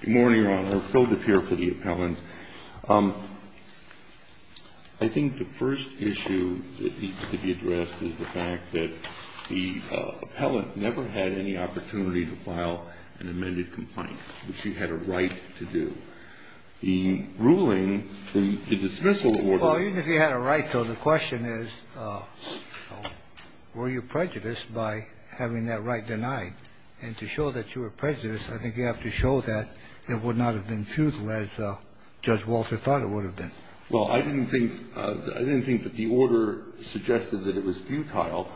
Good morning, Your Honor. Phil DePere for the appellant. I think the first issue that needs to be addressed is the fact that the appellant never had any opportunity to file an amended complaint, which he had a right to do. The ruling, the dismissal order... Well, even if he had a right to, the question is, were you prejudiced by having that right denied? And to show that you were prejudiced, I think you have to show that it would not have been futile as Judge Walter thought it would have been. Well, I didn't think that the order suggested that it was futile.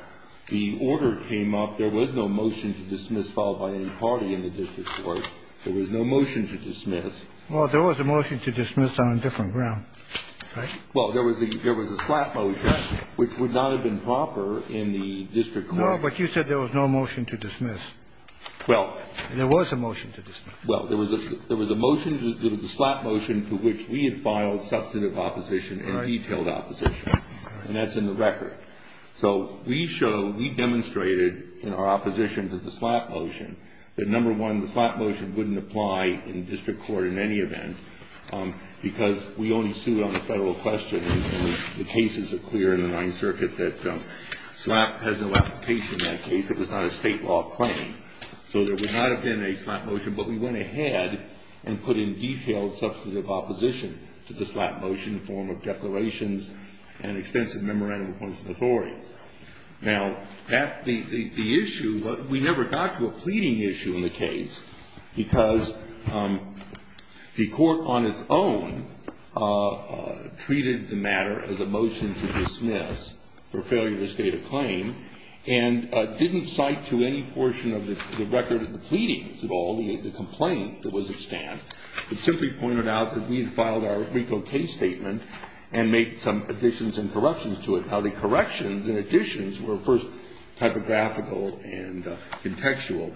The order came up. There was no motion to dismiss filed by any party in the district court. There was no motion to dismiss. Well, there was a motion to dismiss on a different ground, right? Well, there was a slap motion, which would not have been proper in the district court. Well, but you said there was no motion to dismiss. Well... There was a motion to dismiss. Well, there was a motion, there was a slap motion to which we had filed substantive opposition and detailed opposition. All right. And that's in the record. So we show, we demonstrated in our opposition to the slap motion that, number one, the slap motion wouldn't apply in district court in any event because we only sued on a federal question. The cases are clear in the Ninth Circuit that slap has no application in that case. It was not a state law claim. So there would not have been a slap motion, but we went ahead and put in detailed substantive opposition to the slap motion in the form of declarations and extensive memorandum of constitutional authority. Now, that, the issue, we never got to a pleading issue in the case because the court on its own treated the matter as a motion to dismiss for failure to state a claim and didn't cite to any portion of the record of the pleadings at all the complaint that was extant. It simply pointed out that we had filed our RICO case statement and made some additions and corrections to it. Now, the corrections and additions were first typographical and contextual,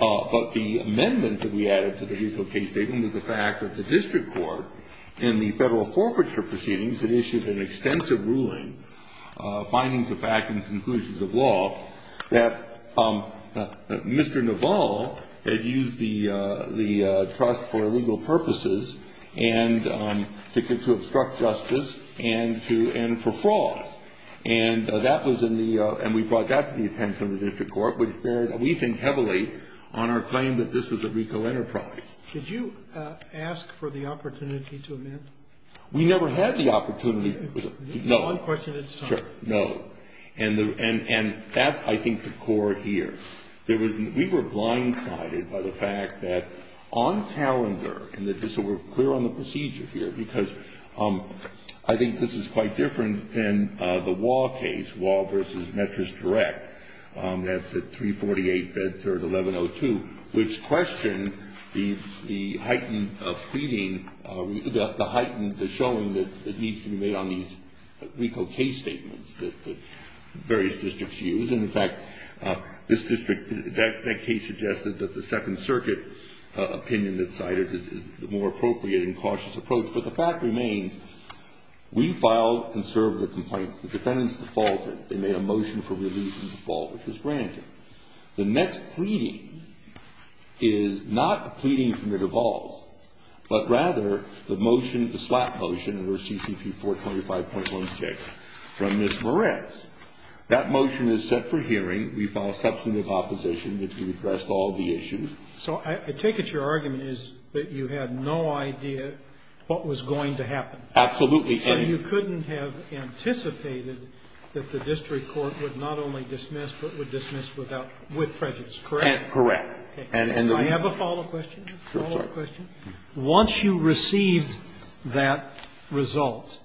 but the amendment that we added to the RICO case statement was the fact that the district court in the federal forfeiture proceedings had issued an extensive ruling, findings of fact and conclusions of law, that Mr. Naval had used the trust for illegal purposes and to obstruct justice and for fraud. And that was in the, and we brought that to the attention of the district court, which we think heavily on our claim that this was a RICO enterprise. Could you ask for the opportunity to amend? We never had the opportunity. No. One question at a time. Sure. No. And that's, I think, the core here. There was, we were blindsided by the fact that on calendar, and just so we're clear on the procedure here, because I think this is quite different than the Wah case, Wah v. Metris Direct, that's at 348 Bedford, 1102, which questioned the heightened pleading, the heightened, the showing that needs to be made on these RICO case statements that various districts use. And, in fact, this district, that case suggested that the Second Circuit opinion that's cited is the more appropriate and cautious approach. But the fact remains, we filed and served the complaints. The defendants defaulted. They made a motion for release and default, which was granted. The next pleading is not a pleading from the Duvalls, but rather the motion, the slap motion under CCP 425.16 from Ms. Moretz. That motion is set for hearing. We filed substantive opposition. It addressed all the issues. So I take it your argument is that you had no idea what was going to happen. Absolutely. And you couldn't have anticipated that the district court would not only dismiss, but would dismiss without, with prejudice, correct? Correct. Do I have a follow-up question? I'm sorry. Once you received that result,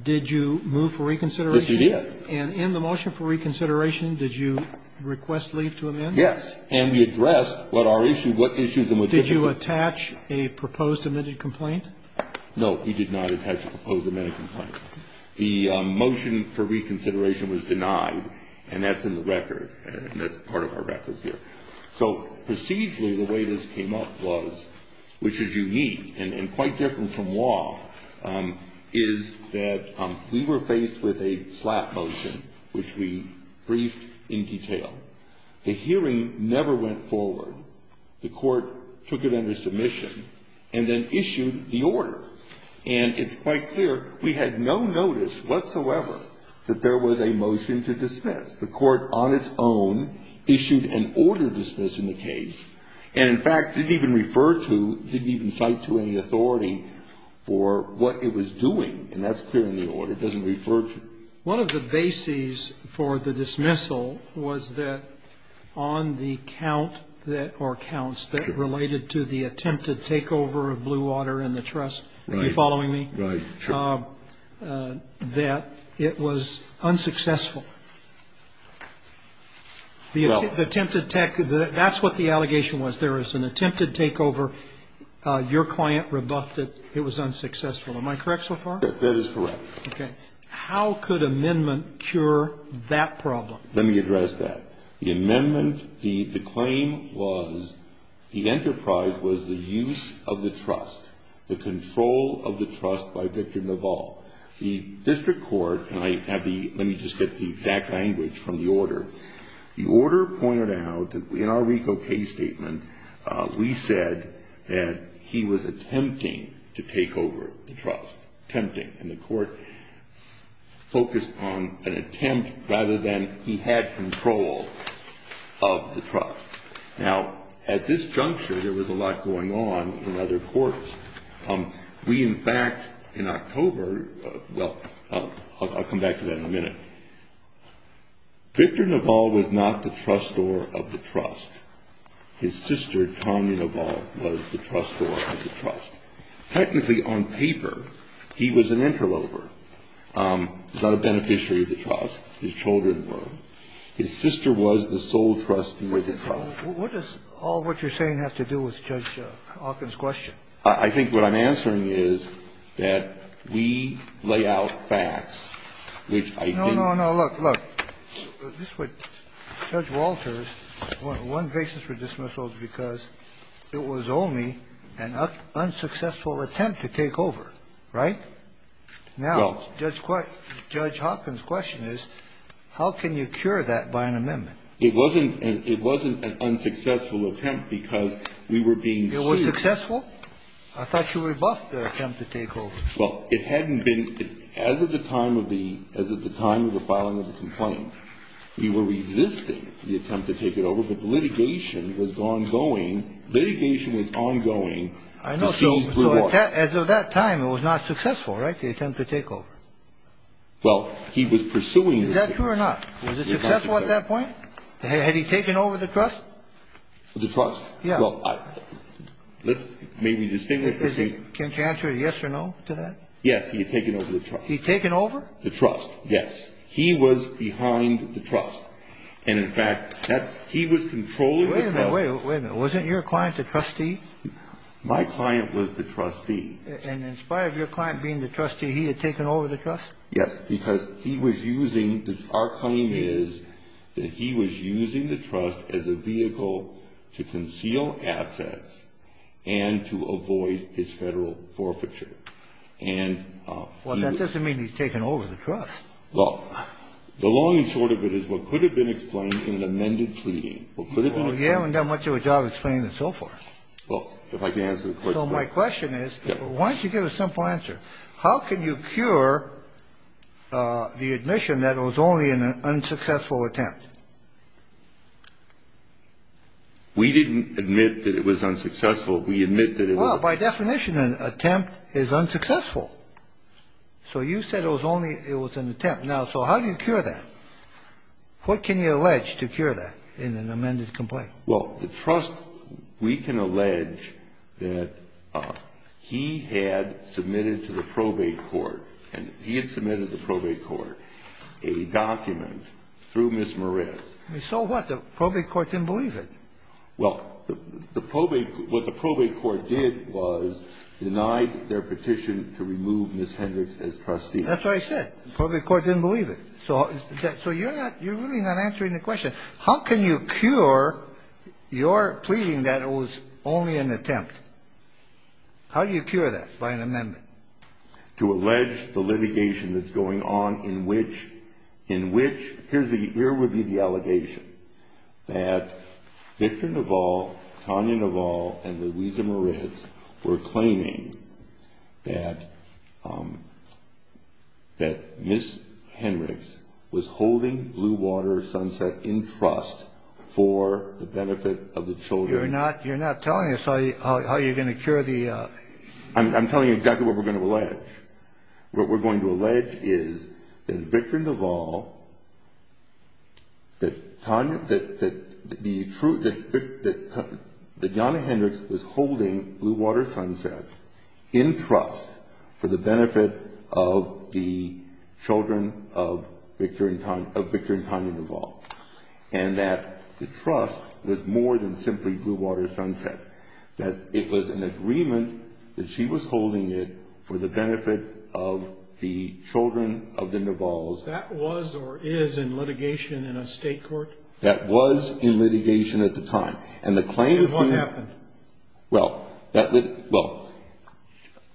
did you move for reconsideration? Yes, we did. And in the motion for reconsideration, did you request leave to amend? Yes. And we addressed what our issue, what issues and what districts. Did you attach a proposed amended complaint? No, we did not attach a proposed amended complaint. The motion for reconsideration was denied, and that's in the record, and that's part of our record here. So procedurally, the way this came up was, which is unique and quite different from law, is that we were faced with a slap motion, which we briefed in detail. The hearing never went forward. The court took it under submission and then issued the order. And it's quite clear we had no notice whatsoever that there was a motion to dismiss. The court on its own issued an order dismissing the case and, in fact, didn't even refer to, didn't even cite to any authority for what it was doing. And that's clear in the order. It doesn't refer to. One of the bases for the dismissal was that on the count that, or counts that related to the attempted takeover of Blue Water and the trust. Right. Are you following me? Right. Sure. That it was unsuccessful. The attempted takeover, that's what the allegation was. There was an attempted takeover. Your client rebuffed it. It was unsuccessful. Am I correct so far? That is correct. Okay. How could amendment cure that problem? Let me address that. The amendment, the claim was, the enterprise was the use of the trust, the control of the trust by Victor Naval. The district court, and I have the, let me just get the exact language from the order. The order pointed out that in our RICO case statement, we said that he was attempting to take over the trust. Attempting. And the court focused on an attempt rather than he had control of the trust. Now, at this juncture, there was a lot going on in other courts. We, in fact, in October, well, I'll come back to that in a minute. Victor Naval was not the trustor of the trust. His sister, Tommy Naval, was the trustor of the trust. Technically, on paper, he was an interloper. Not a beneficiary of the trust. His children were. His sister was the sole trustee of the trust. What does all what you're saying have to do with Judge Hawkins' question? I think what I'm answering is that we lay out facts, which I didn't. No, no, no. Look, look. This is what Judge Walters, one basis for dismissal is because it was only an unsuccessful attempt to take over, right? Now, Judge Hawkins' question is, how can you cure that by an amendment? It wasn't an unsuccessful attempt because we were being sued. It was successful? I thought you rebuffed the attempt to take over. Well, it hadn't been. As of the time of the filing of the complaint, we were resisting the attempt to take it over. But the litigation was ongoing. Litigation was ongoing. I know. So as of that time, it was not successful, right, the attempt to take over? Well, he was pursuing. Is that true or not? Was it successful at that point? Had he taken over the trust? The trust? Yeah. Well, let's maybe distinguish. Can you answer yes or no to that? Yes, he had taken over the trust. He had taken over? The trust, yes. He was behind the trust. And, in fact, he was controlling the trust. Wait a minute, wait a minute. Wasn't your client the trustee? My client was the trustee. And in spite of your client being the trustee, he had taken over the trust? Yes, because he was using, our claim is that he was using the trust as a vehicle to conceal assets and to avoid his federal forfeiture. Well, that doesn't mean he's taken over the trust. Well, the long and short of it is what could have been explained in an amended plea. Well, you haven't done much of a job explaining it so far. Well, if I can answer the question. So my question is, why don't you give a simple answer? How can you cure the admission that it was only an unsuccessful attempt? We didn't admit that it was unsuccessful. We admit that it was. Well, by definition, an attempt is unsuccessful. So you said it was only, it was an attempt. Now, so how do you cure that? What can you allege to cure that in an amended complaint? Well, the trust, we can allege that he had submitted to the probate court, and he had submitted to the probate court a document through Ms. Merez. So what? The probate court didn't believe it. Well, what the probate court did was denied their petition to remove Ms. Hendricks as trustee. That's what I said. The probate court didn't believe it. So you're really not answering the question. How can you cure your pleading that it was only an attempt? How do you cure that by an amendment? To allege the litigation that's going on in which, here would be the allegation, that Victor Naval, Tanya Naval, and Louisa Merez were claiming that Ms. Hendricks was holding Blue Water Sunset in trust for the benefit of the children. You're not telling us how you're going to cure the... I'm telling you exactly what we're going to allege. What we're going to allege is that Victor Naval, that Tanya, that the... that Jana Hendricks was holding Blue Water Sunset in trust for the benefit of the children of Victor and Tanya Naval, and that the trust was more than simply Blue Water Sunset, that it was an agreement that she was holding it for the benefit of the children of the Navals. That was or is in litigation in a state court? That was in litigation at the time. And the claim... And what happened? Well, that... well,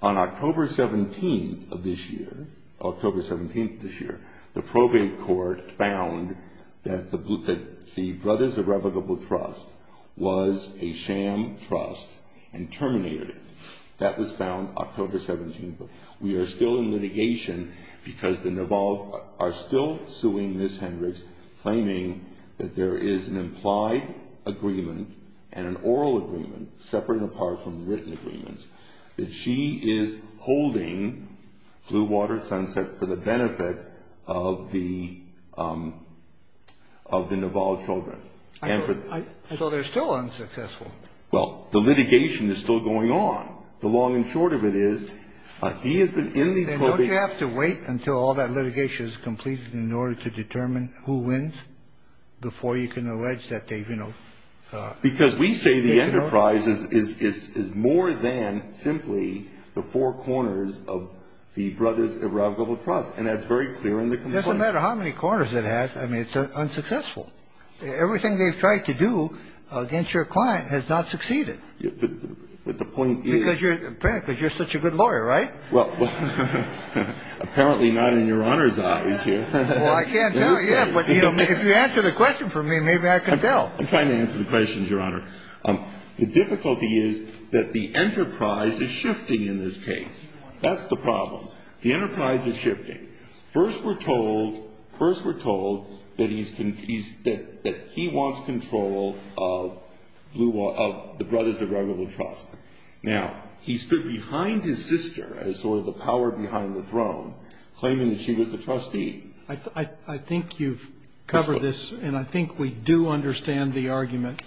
on October 17th of this year, October 17th this year, the probate court found that the Brothers Irrevocable Trust was a sham trust and terminated it. That was found October 17th. We are still in litigation because the Navals are still suing Ms. Hendricks, claiming that there is an implied agreement and an oral agreement, separate and apart from the written agreements, that she is holding Blue Water Sunset for the benefit of the Naval children. So they're still unsuccessful? Well, the litigation is still going on. The long and short of it is he has been in the... Then don't you have to wait until all that litigation is completed in order to determine who wins before you can allege that they've, you know... And that's very clear in the complaint. It doesn't matter how many corners it has. I mean, it's unsuccessful. Everything they've tried to do against your client has not succeeded. But the point is... Because you're... because you're such a good lawyer, right? Well, apparently not in Your Honor's eyes here. Well, I can't tell you. But if you answer the question for me, maybe I can tell. I'm trying to answer the questions, Your Honor. The difficulty is that the enterprise is shifting in this case. That's the problem. The enterprise is shifting. First, we're told... First, we're told that he's... that he wants control of Blue Water... of the Brothers of Red River Trust. Now, he stood behind his sister as sort of the power behind the throne, claiming that she was the trustee. I think you've covered this. And I think we do understand the argument.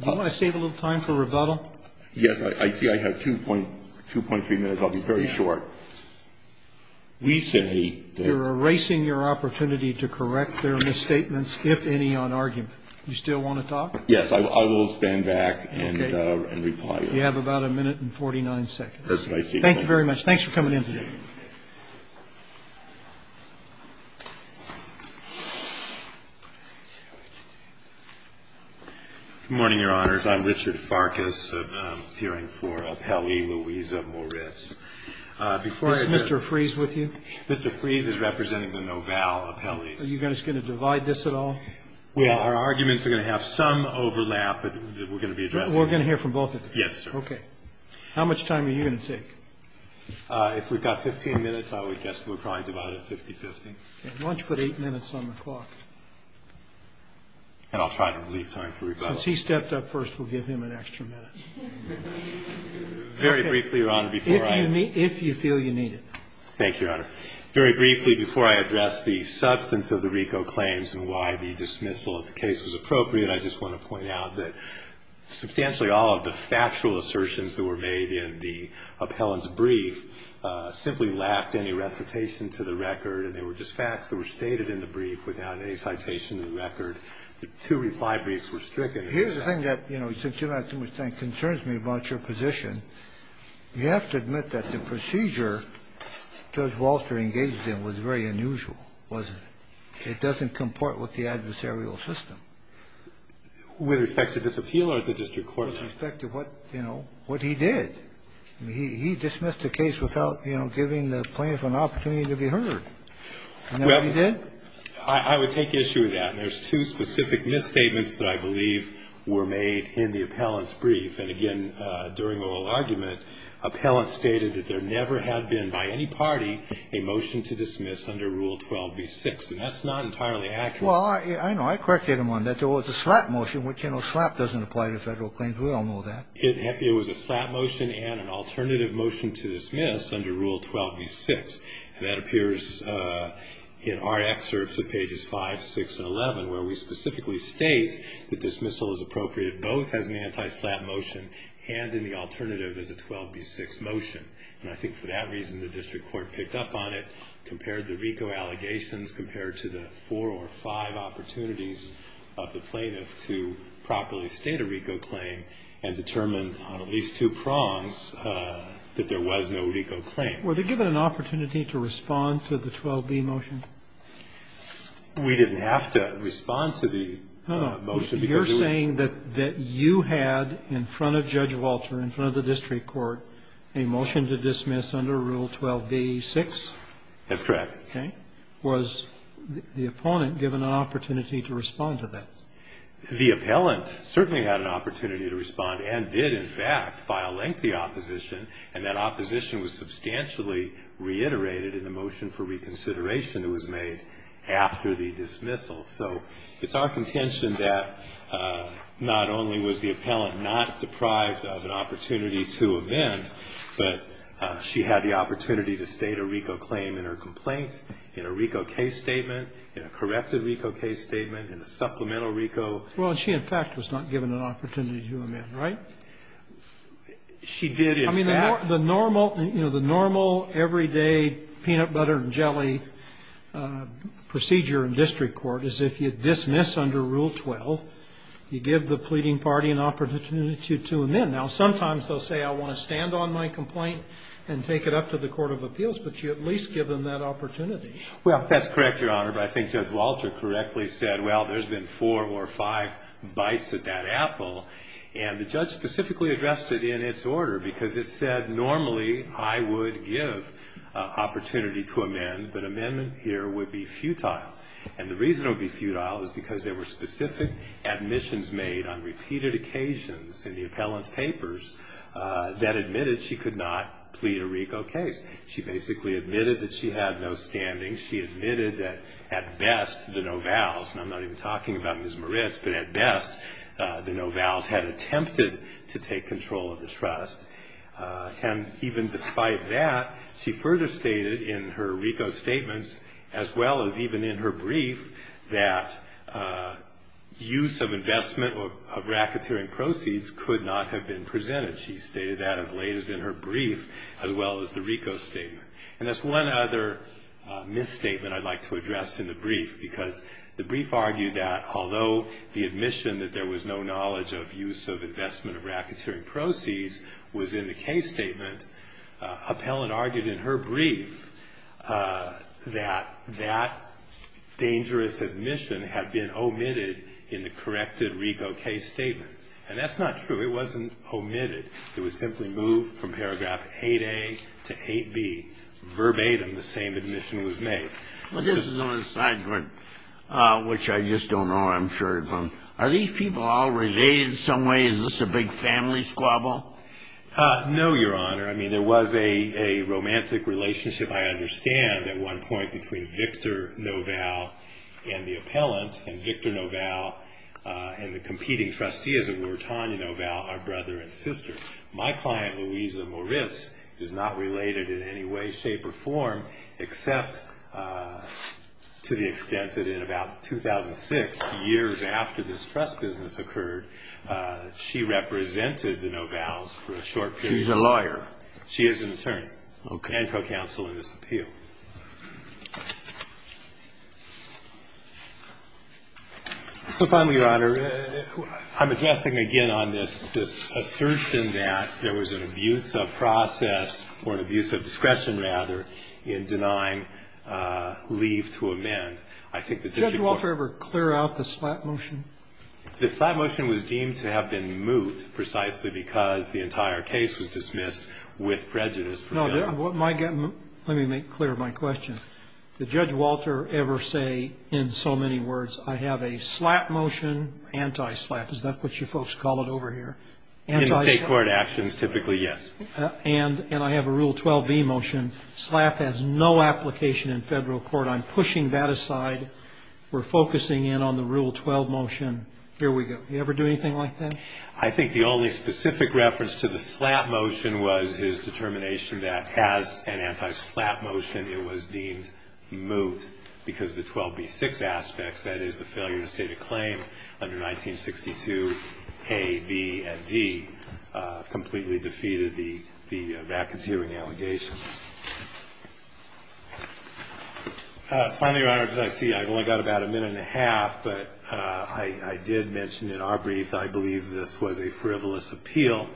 Do you want to save a little time for rebuttal? Yes. I see I have 2.3 minutes. I'll be very short. We say that... You're erasing your opportunity to correct their misstatements, if any, on argument. Do you still want to talk? Yes. I will stand back and reply. Okay. You have about a minute and 49 seconds. That's what I say. Thank you very much. Thanks for coming in today. Good morning, Your Honors. I'm Richard Farkas, appearing for Appellee Louisa Moritz. Is Mr. Freeze with you? Mr. Freeze is representing the Novell Appellees. Are you guys going to divide this at all? Well, our arguments are going to have some overlap that we're going to be addressing. We're going to hear from both of you? Yes, sir. Okay. How much time are you going to take? If we've got 15 minutes, I would guess we'll probably divide it 50-50. Why don't you put 8 minutes on the clock? And I'll try to leave time for rebuttal. Since he stepped up first, we'll give him an extra minute. Very briefly, Your Honor, before I... If you feel you need it. Thank you, Your Honor. Very briefly, before I address the substance of the RICO claims and why the dismissal of the case was appropriate, I just want to point out that substantially all of the factual assertions that were made in the appellant's brief simply lacked any recitation to the record. And they were just facts that were stated in the brief without any citation to the record. The two reply briefs were stricken. Here's the thing that, you know, since you don't have too much time, concerns me about your position. You have to admit that the procedure Judge Walter engaged in was very unusual, wasn't it? It doesn't comport with the adversarial system. With respect to this appeal or the district court? With respect to what, you know, what he did. He dismissed the case without, you know, giving the plaintiff an opportunity to be heard. Isn't that what he did? I would take issue with that. And there's two specific misstatements that I believe were made in the appellant's brief. And, again, during the whole argument, appellant stated that there never had been by any party a motion to dismiss under Rule 12b-6. And that's not entirely accurate. Well, I know. I corrected him on that. There was a slap motion, which, you know, slap doesn't apply to federal claims. We all know that. It was a slap motion and an alternative motion to dismiss under Rule 12b-6. And that appears in our excerpts at pages 5, 6, and 11, where we specifically state that dismissal is appropriate both as an anti-slap motion and in the alternative as a 12b-6 motion. And I think for that reason the district court picked up on it, compared the five opportunities of the plaintiff to properly state a RICO claim and determine on at least two prongs that there was no RICO claim. Were they given an opportunity to respond to the 12b motion? We didn't have to respond to the motion. No, no. You're saying that you had in front of Judge Walter, in front of the district court, a motion to dismiss under Rule 12b-6? That's correct. Okay. Was the opponent given an opportunity to respond to that? The appellant certainly had an opportunity to respond and did, in fact, file lengthy opposition. And that opposition was substantially reiterated in the motion for reconsideration that was made after the dismissal. So it's our contention that not only was the appellant not deprived of an opportunity to amend, but she had the opportunity to state a RICO claim in her complaint, in a RICO case statement, in a corrected RICO case statement, in a supplemental RICO. Well, she, in fact, was not given an opportunity to amend, right? She did, in fact. I mean, the normal, you know, the normal everyday peanut butter and jelly procedure in district court is if you dismiss under Rule 12, you give the pleading party an opportunity to amend. Now, sometimes they'll say, I want to stand on my complaint and take it up to the court of appeals. But you at least give them that opportunity. Well, that's correct, Your Honor. But I think Judge Walter correctly said, well, there's been four or five bites at that apple. And the judge specifically addressed it in its order, because it said normally I would give opportunity to amend, but amendment here would be futile. And the reason it would be futile is because there were specific admissions made on repeated occasions in the appellant's papers that admitted she could not plead a RICO case. She basically admitted that she had no standing. She admitted that at best the no-vows, and I'm not even talking about Ms. Moritz, but at best the no-vows had attempted to take control of the trust. And even despite that, she further stated in her RICO statements, as well as even in her brief, that use of investment of racketeering proceeds could not have been presented. She stated that as late as in her brief, as well as the RICO statement. And that's one other misstatement I'd like to address in the brief, because the brief argued that although the admission that there was no knowledge of use of investment of racketeering proceeds was in the case statement, appellant argued in her brief that that dangerous admission had been omitted in the corrected RICO case statement. And that's not true. It wasn't omitted. It was simply moved from paragraph 8a to 8b verbatim the same admission was made. This is an aside, which I just don't know, I'm sure. Are these people all related in some way? Is this a big family squabble? No, Your Honor. I mean, there was a romantic relationship, I understand, at one point between Victor Novell and the appellant, and Victor Novell and the competing trustees, and we were Tonya Novell, our brother and sister. My client, Louisa Moritz, is not related in any way, shape, or form, except to the extent that in about 2006, years after this trust business occurred, she represented the Novells for a short period of time. She's a lawyer. She is an attorney. Okay. And co-counsel in this appeal. So finally, Your Honor, I'm addressing again on this assertion that there was an abuse of process, or an abuse of discretion, rather, in denying leave to amend. I think the district court ---- Did Judge Walter ever clear out the slap motion? The slap motion was deemed to have been moot precisely because the entire case was dismissed with prejudice. Let me make clear my question. Did Judge Walter ever say, in so many words, I have a slap motion, anti-slap, is that what you folks call it over here? In the state court actions, typically, yes. And I have a Rule 12b motion. Slap has no application in federal court. I'm pushing that aside. We're focusing in on the Rule 12 motion. Here we go. Did he ever do anything like that? I think the only specific reference to the slap motion was his determination that, as an anti-slap motion, it was deemed moot because of the 12b-6 aspects, that is, the failure to state a claim under 1962a, b, and d, completely defeated the racketeering allegations. Finally, Your Honor, as I see, I've only got about a minute and a half, but I did mention in our brief, I believe this was a frivolous appeal.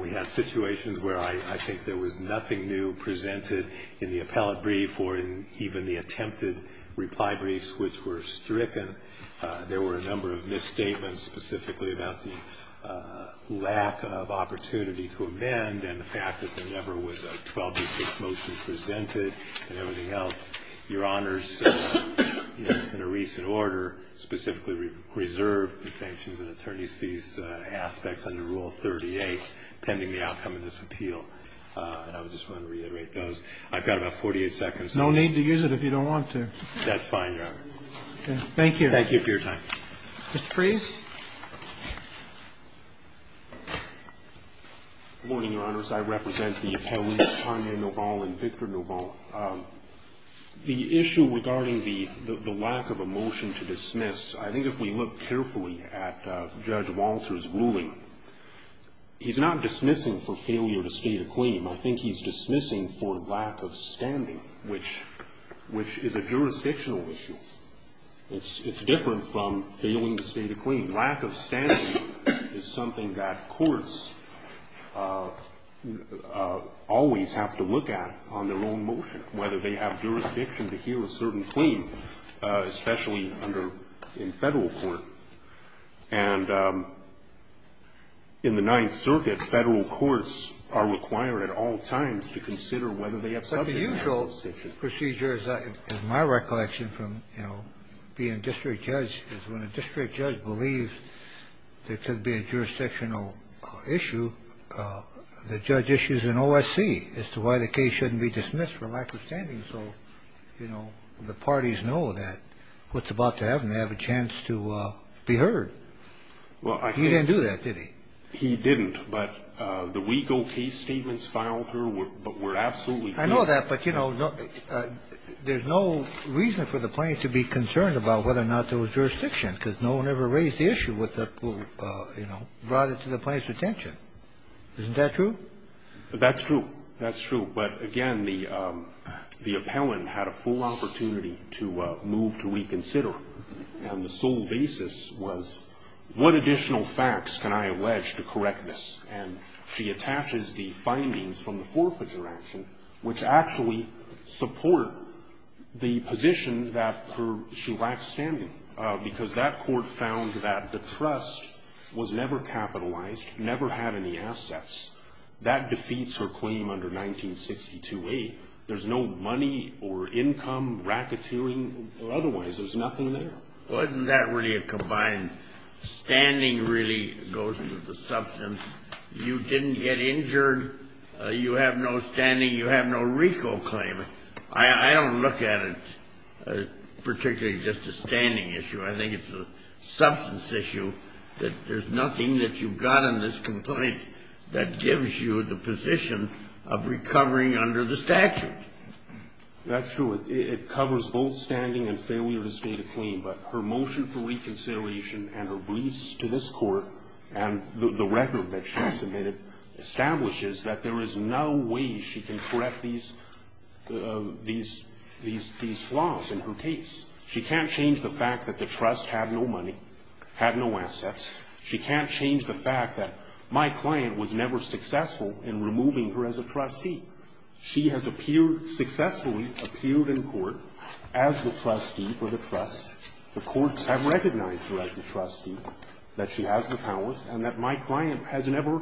We had situations where I think there was nothing new presented in the appellate brief or in even the attempted reply briefs, which were stricken. There were a number of misstatements specifically about the lack of opportunity to amend and the fact that there never was a 12b-6 motion presented and everything else. Your Honor's, in a recent order, specifically reserved the sanctions and attorney's fees aspects under Rule 38 pending the outcome of this appeal. And I just want to reiterate those. I've got about 48 seconds. No need to use it if you don't want to. That's fine, Your Honor. Thank you. Thank you for your time. Mr. Priest? Good morning, Your Honors. I represent the appellees, Tanya Noval and Victor Noval. The issue regarding the lack of a motion to dismiss, I think if we look carefully at Judge Walter's ruling, he's not dismissing for failure to state a claim. I think he's dismissing for lack of standing, which is a jurisdictional issue. It's different from failing to state a claim. Lack of standing is something that courts always have to look at on their own motion, whether they have jurisdiction to hear a certain claim, especially in Federal court. And in the Ninth Circuit, Federal courts are required at all times to consider whether they have subject to that jurisdiction. But the usual procedure, as my recollection from being district judge, is when a district judge believes there could be a jurisdictional issue, the judge issues an OSC as to why the case shouldn't be dismissed for lack of standing so, you know, the parties know that what's about to happen, they have a chance to be heard. He didn't do that, did he? He didn't. But the legal case statements filed here were absolutely clear. I know that, but, you know, there's no reason for the plaintiff to be concerned about whether or not there was jurisdiction, because no one ever raised the issue with the, you know, brought it to the plaintiff's attention. Isn't that true? That's true. That's true. But, again, the appellant had a full opportunity to move to reconsider, and the sole basis was, what additional facts can I allege to correct this? And she attaches the findings from the forfeiture action, which actually support the position that she lacks standing, because that court found that the trust was never capitalized, never had any assets. That defeats her claim under 1962a. There's no money or income, racketeering, or otherwise. There's nothing there. Wasn't that really a combined? Standing really goes with the substance. You didn't get injured. You have no standing. You have no RICO claim. I don't look at it particularly as just a standing issue. I think it's a substance issue that there's nothing that you've got in this complaint that gives you the position of recovering under the statute. That's true. It covers both standing and failure to state a claim. But her motion for reconsideration and her briefs to this court and the record that she submitted establishes that there is no way she can correct these flaws in her case. She can't change the fact that the trust had no money, had no assets. She can't change the fact that my client was never successful in removing her as a trustee. She has appeared, successfully appeared in court as the trustee for the trust. The courts have recognized her as the trustee, that she has the powers, and that my client has never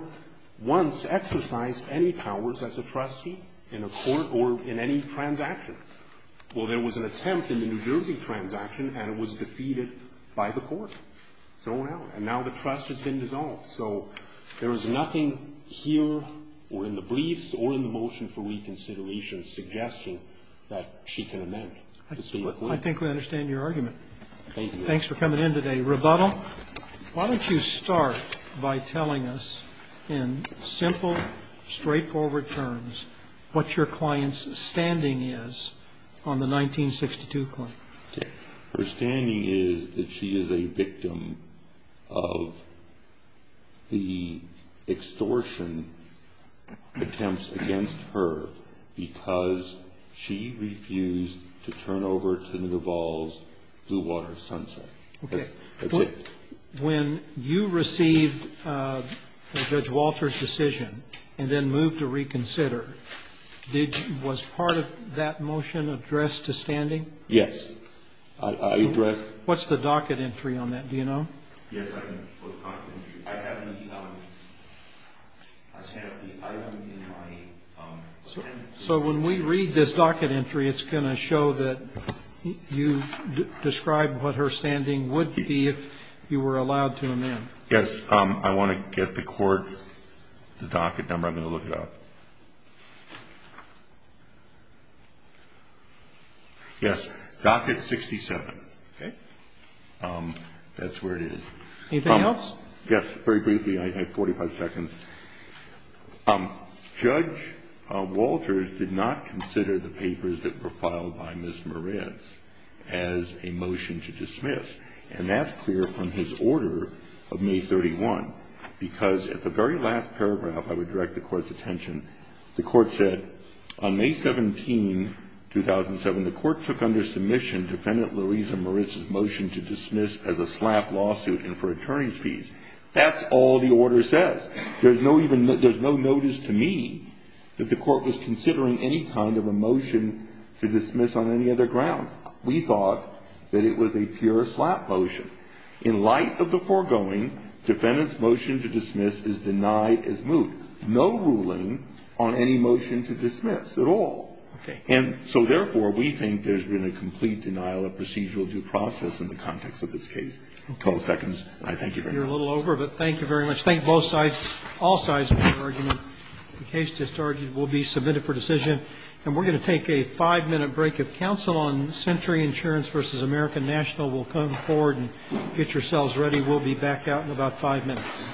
once exercised any powers as a trustee in a court or in any transaction. Well, there was an attempt in the New Jersey transaction, and it was defeated by the court. So now the trust has been dissolved. So there is nothing here or in the briefs or in the motion for reconsideration suggesting that she can amend. I think we understand your argument. Thank you. Thanks for coming in today. Rebuttal? Why don't you start by telling us in simple, straightforward terms what your client's standing is on the 1962 claim? Okay. Her standing is that she is a victim of the extortion attempts against her because she refused to turn over to the Duval's Blue Water Sunset. Okay. That's it. When you received Judge Walter's decision and then moved to reconsider, was part of that motion addressed to standing? Yes. I addressed it. What's the docket entry on that? Do you know? Yes, I do. I haven't seen it. I haven't seen it. So when we read this docket entry, it's going to show that you describe what her standing would be if you were allowed to amend. Yes. I want to get the court the docket number. I'm going to look it up. Yes. Docket 67. Okay. That's where it is. Anything else? Yes. Very briefly. I have 45 seconds. Judge Walter did not consider the papers that were filed by Ms. Moritz as a motion to dismiss. And that's clear from his order of May 31, because at the very last paragraph I would direct the court's attention, the court said on May 17, 2007, the court took under submission Defendant Louisa Moritz's motion to dismiss as a slap lawsuit and for attorney's fees. That's all the order says. There's no notice to me that the court was considering any kind of a motion to dismiss on any other grounds. We thought that it was a pure slap motion. In light of the foregoing, Defendant's motion to dismiss is denied as moot. No ruling on any motion to dismiss at all. Okay. And so, therefore, we think there's been a complete denial of procedural due process in the context of this case. 12 seconds. I thank you very much. You're a little over, but thank you very much. Let's thank both sides. All sides for their argument. The case just argued will be submitted for decision. And we're going to take a 5-minute break. If counsel on Century Insurance v. American National will come forward and get yourselves ready, we'll be back out in about 5 minutes.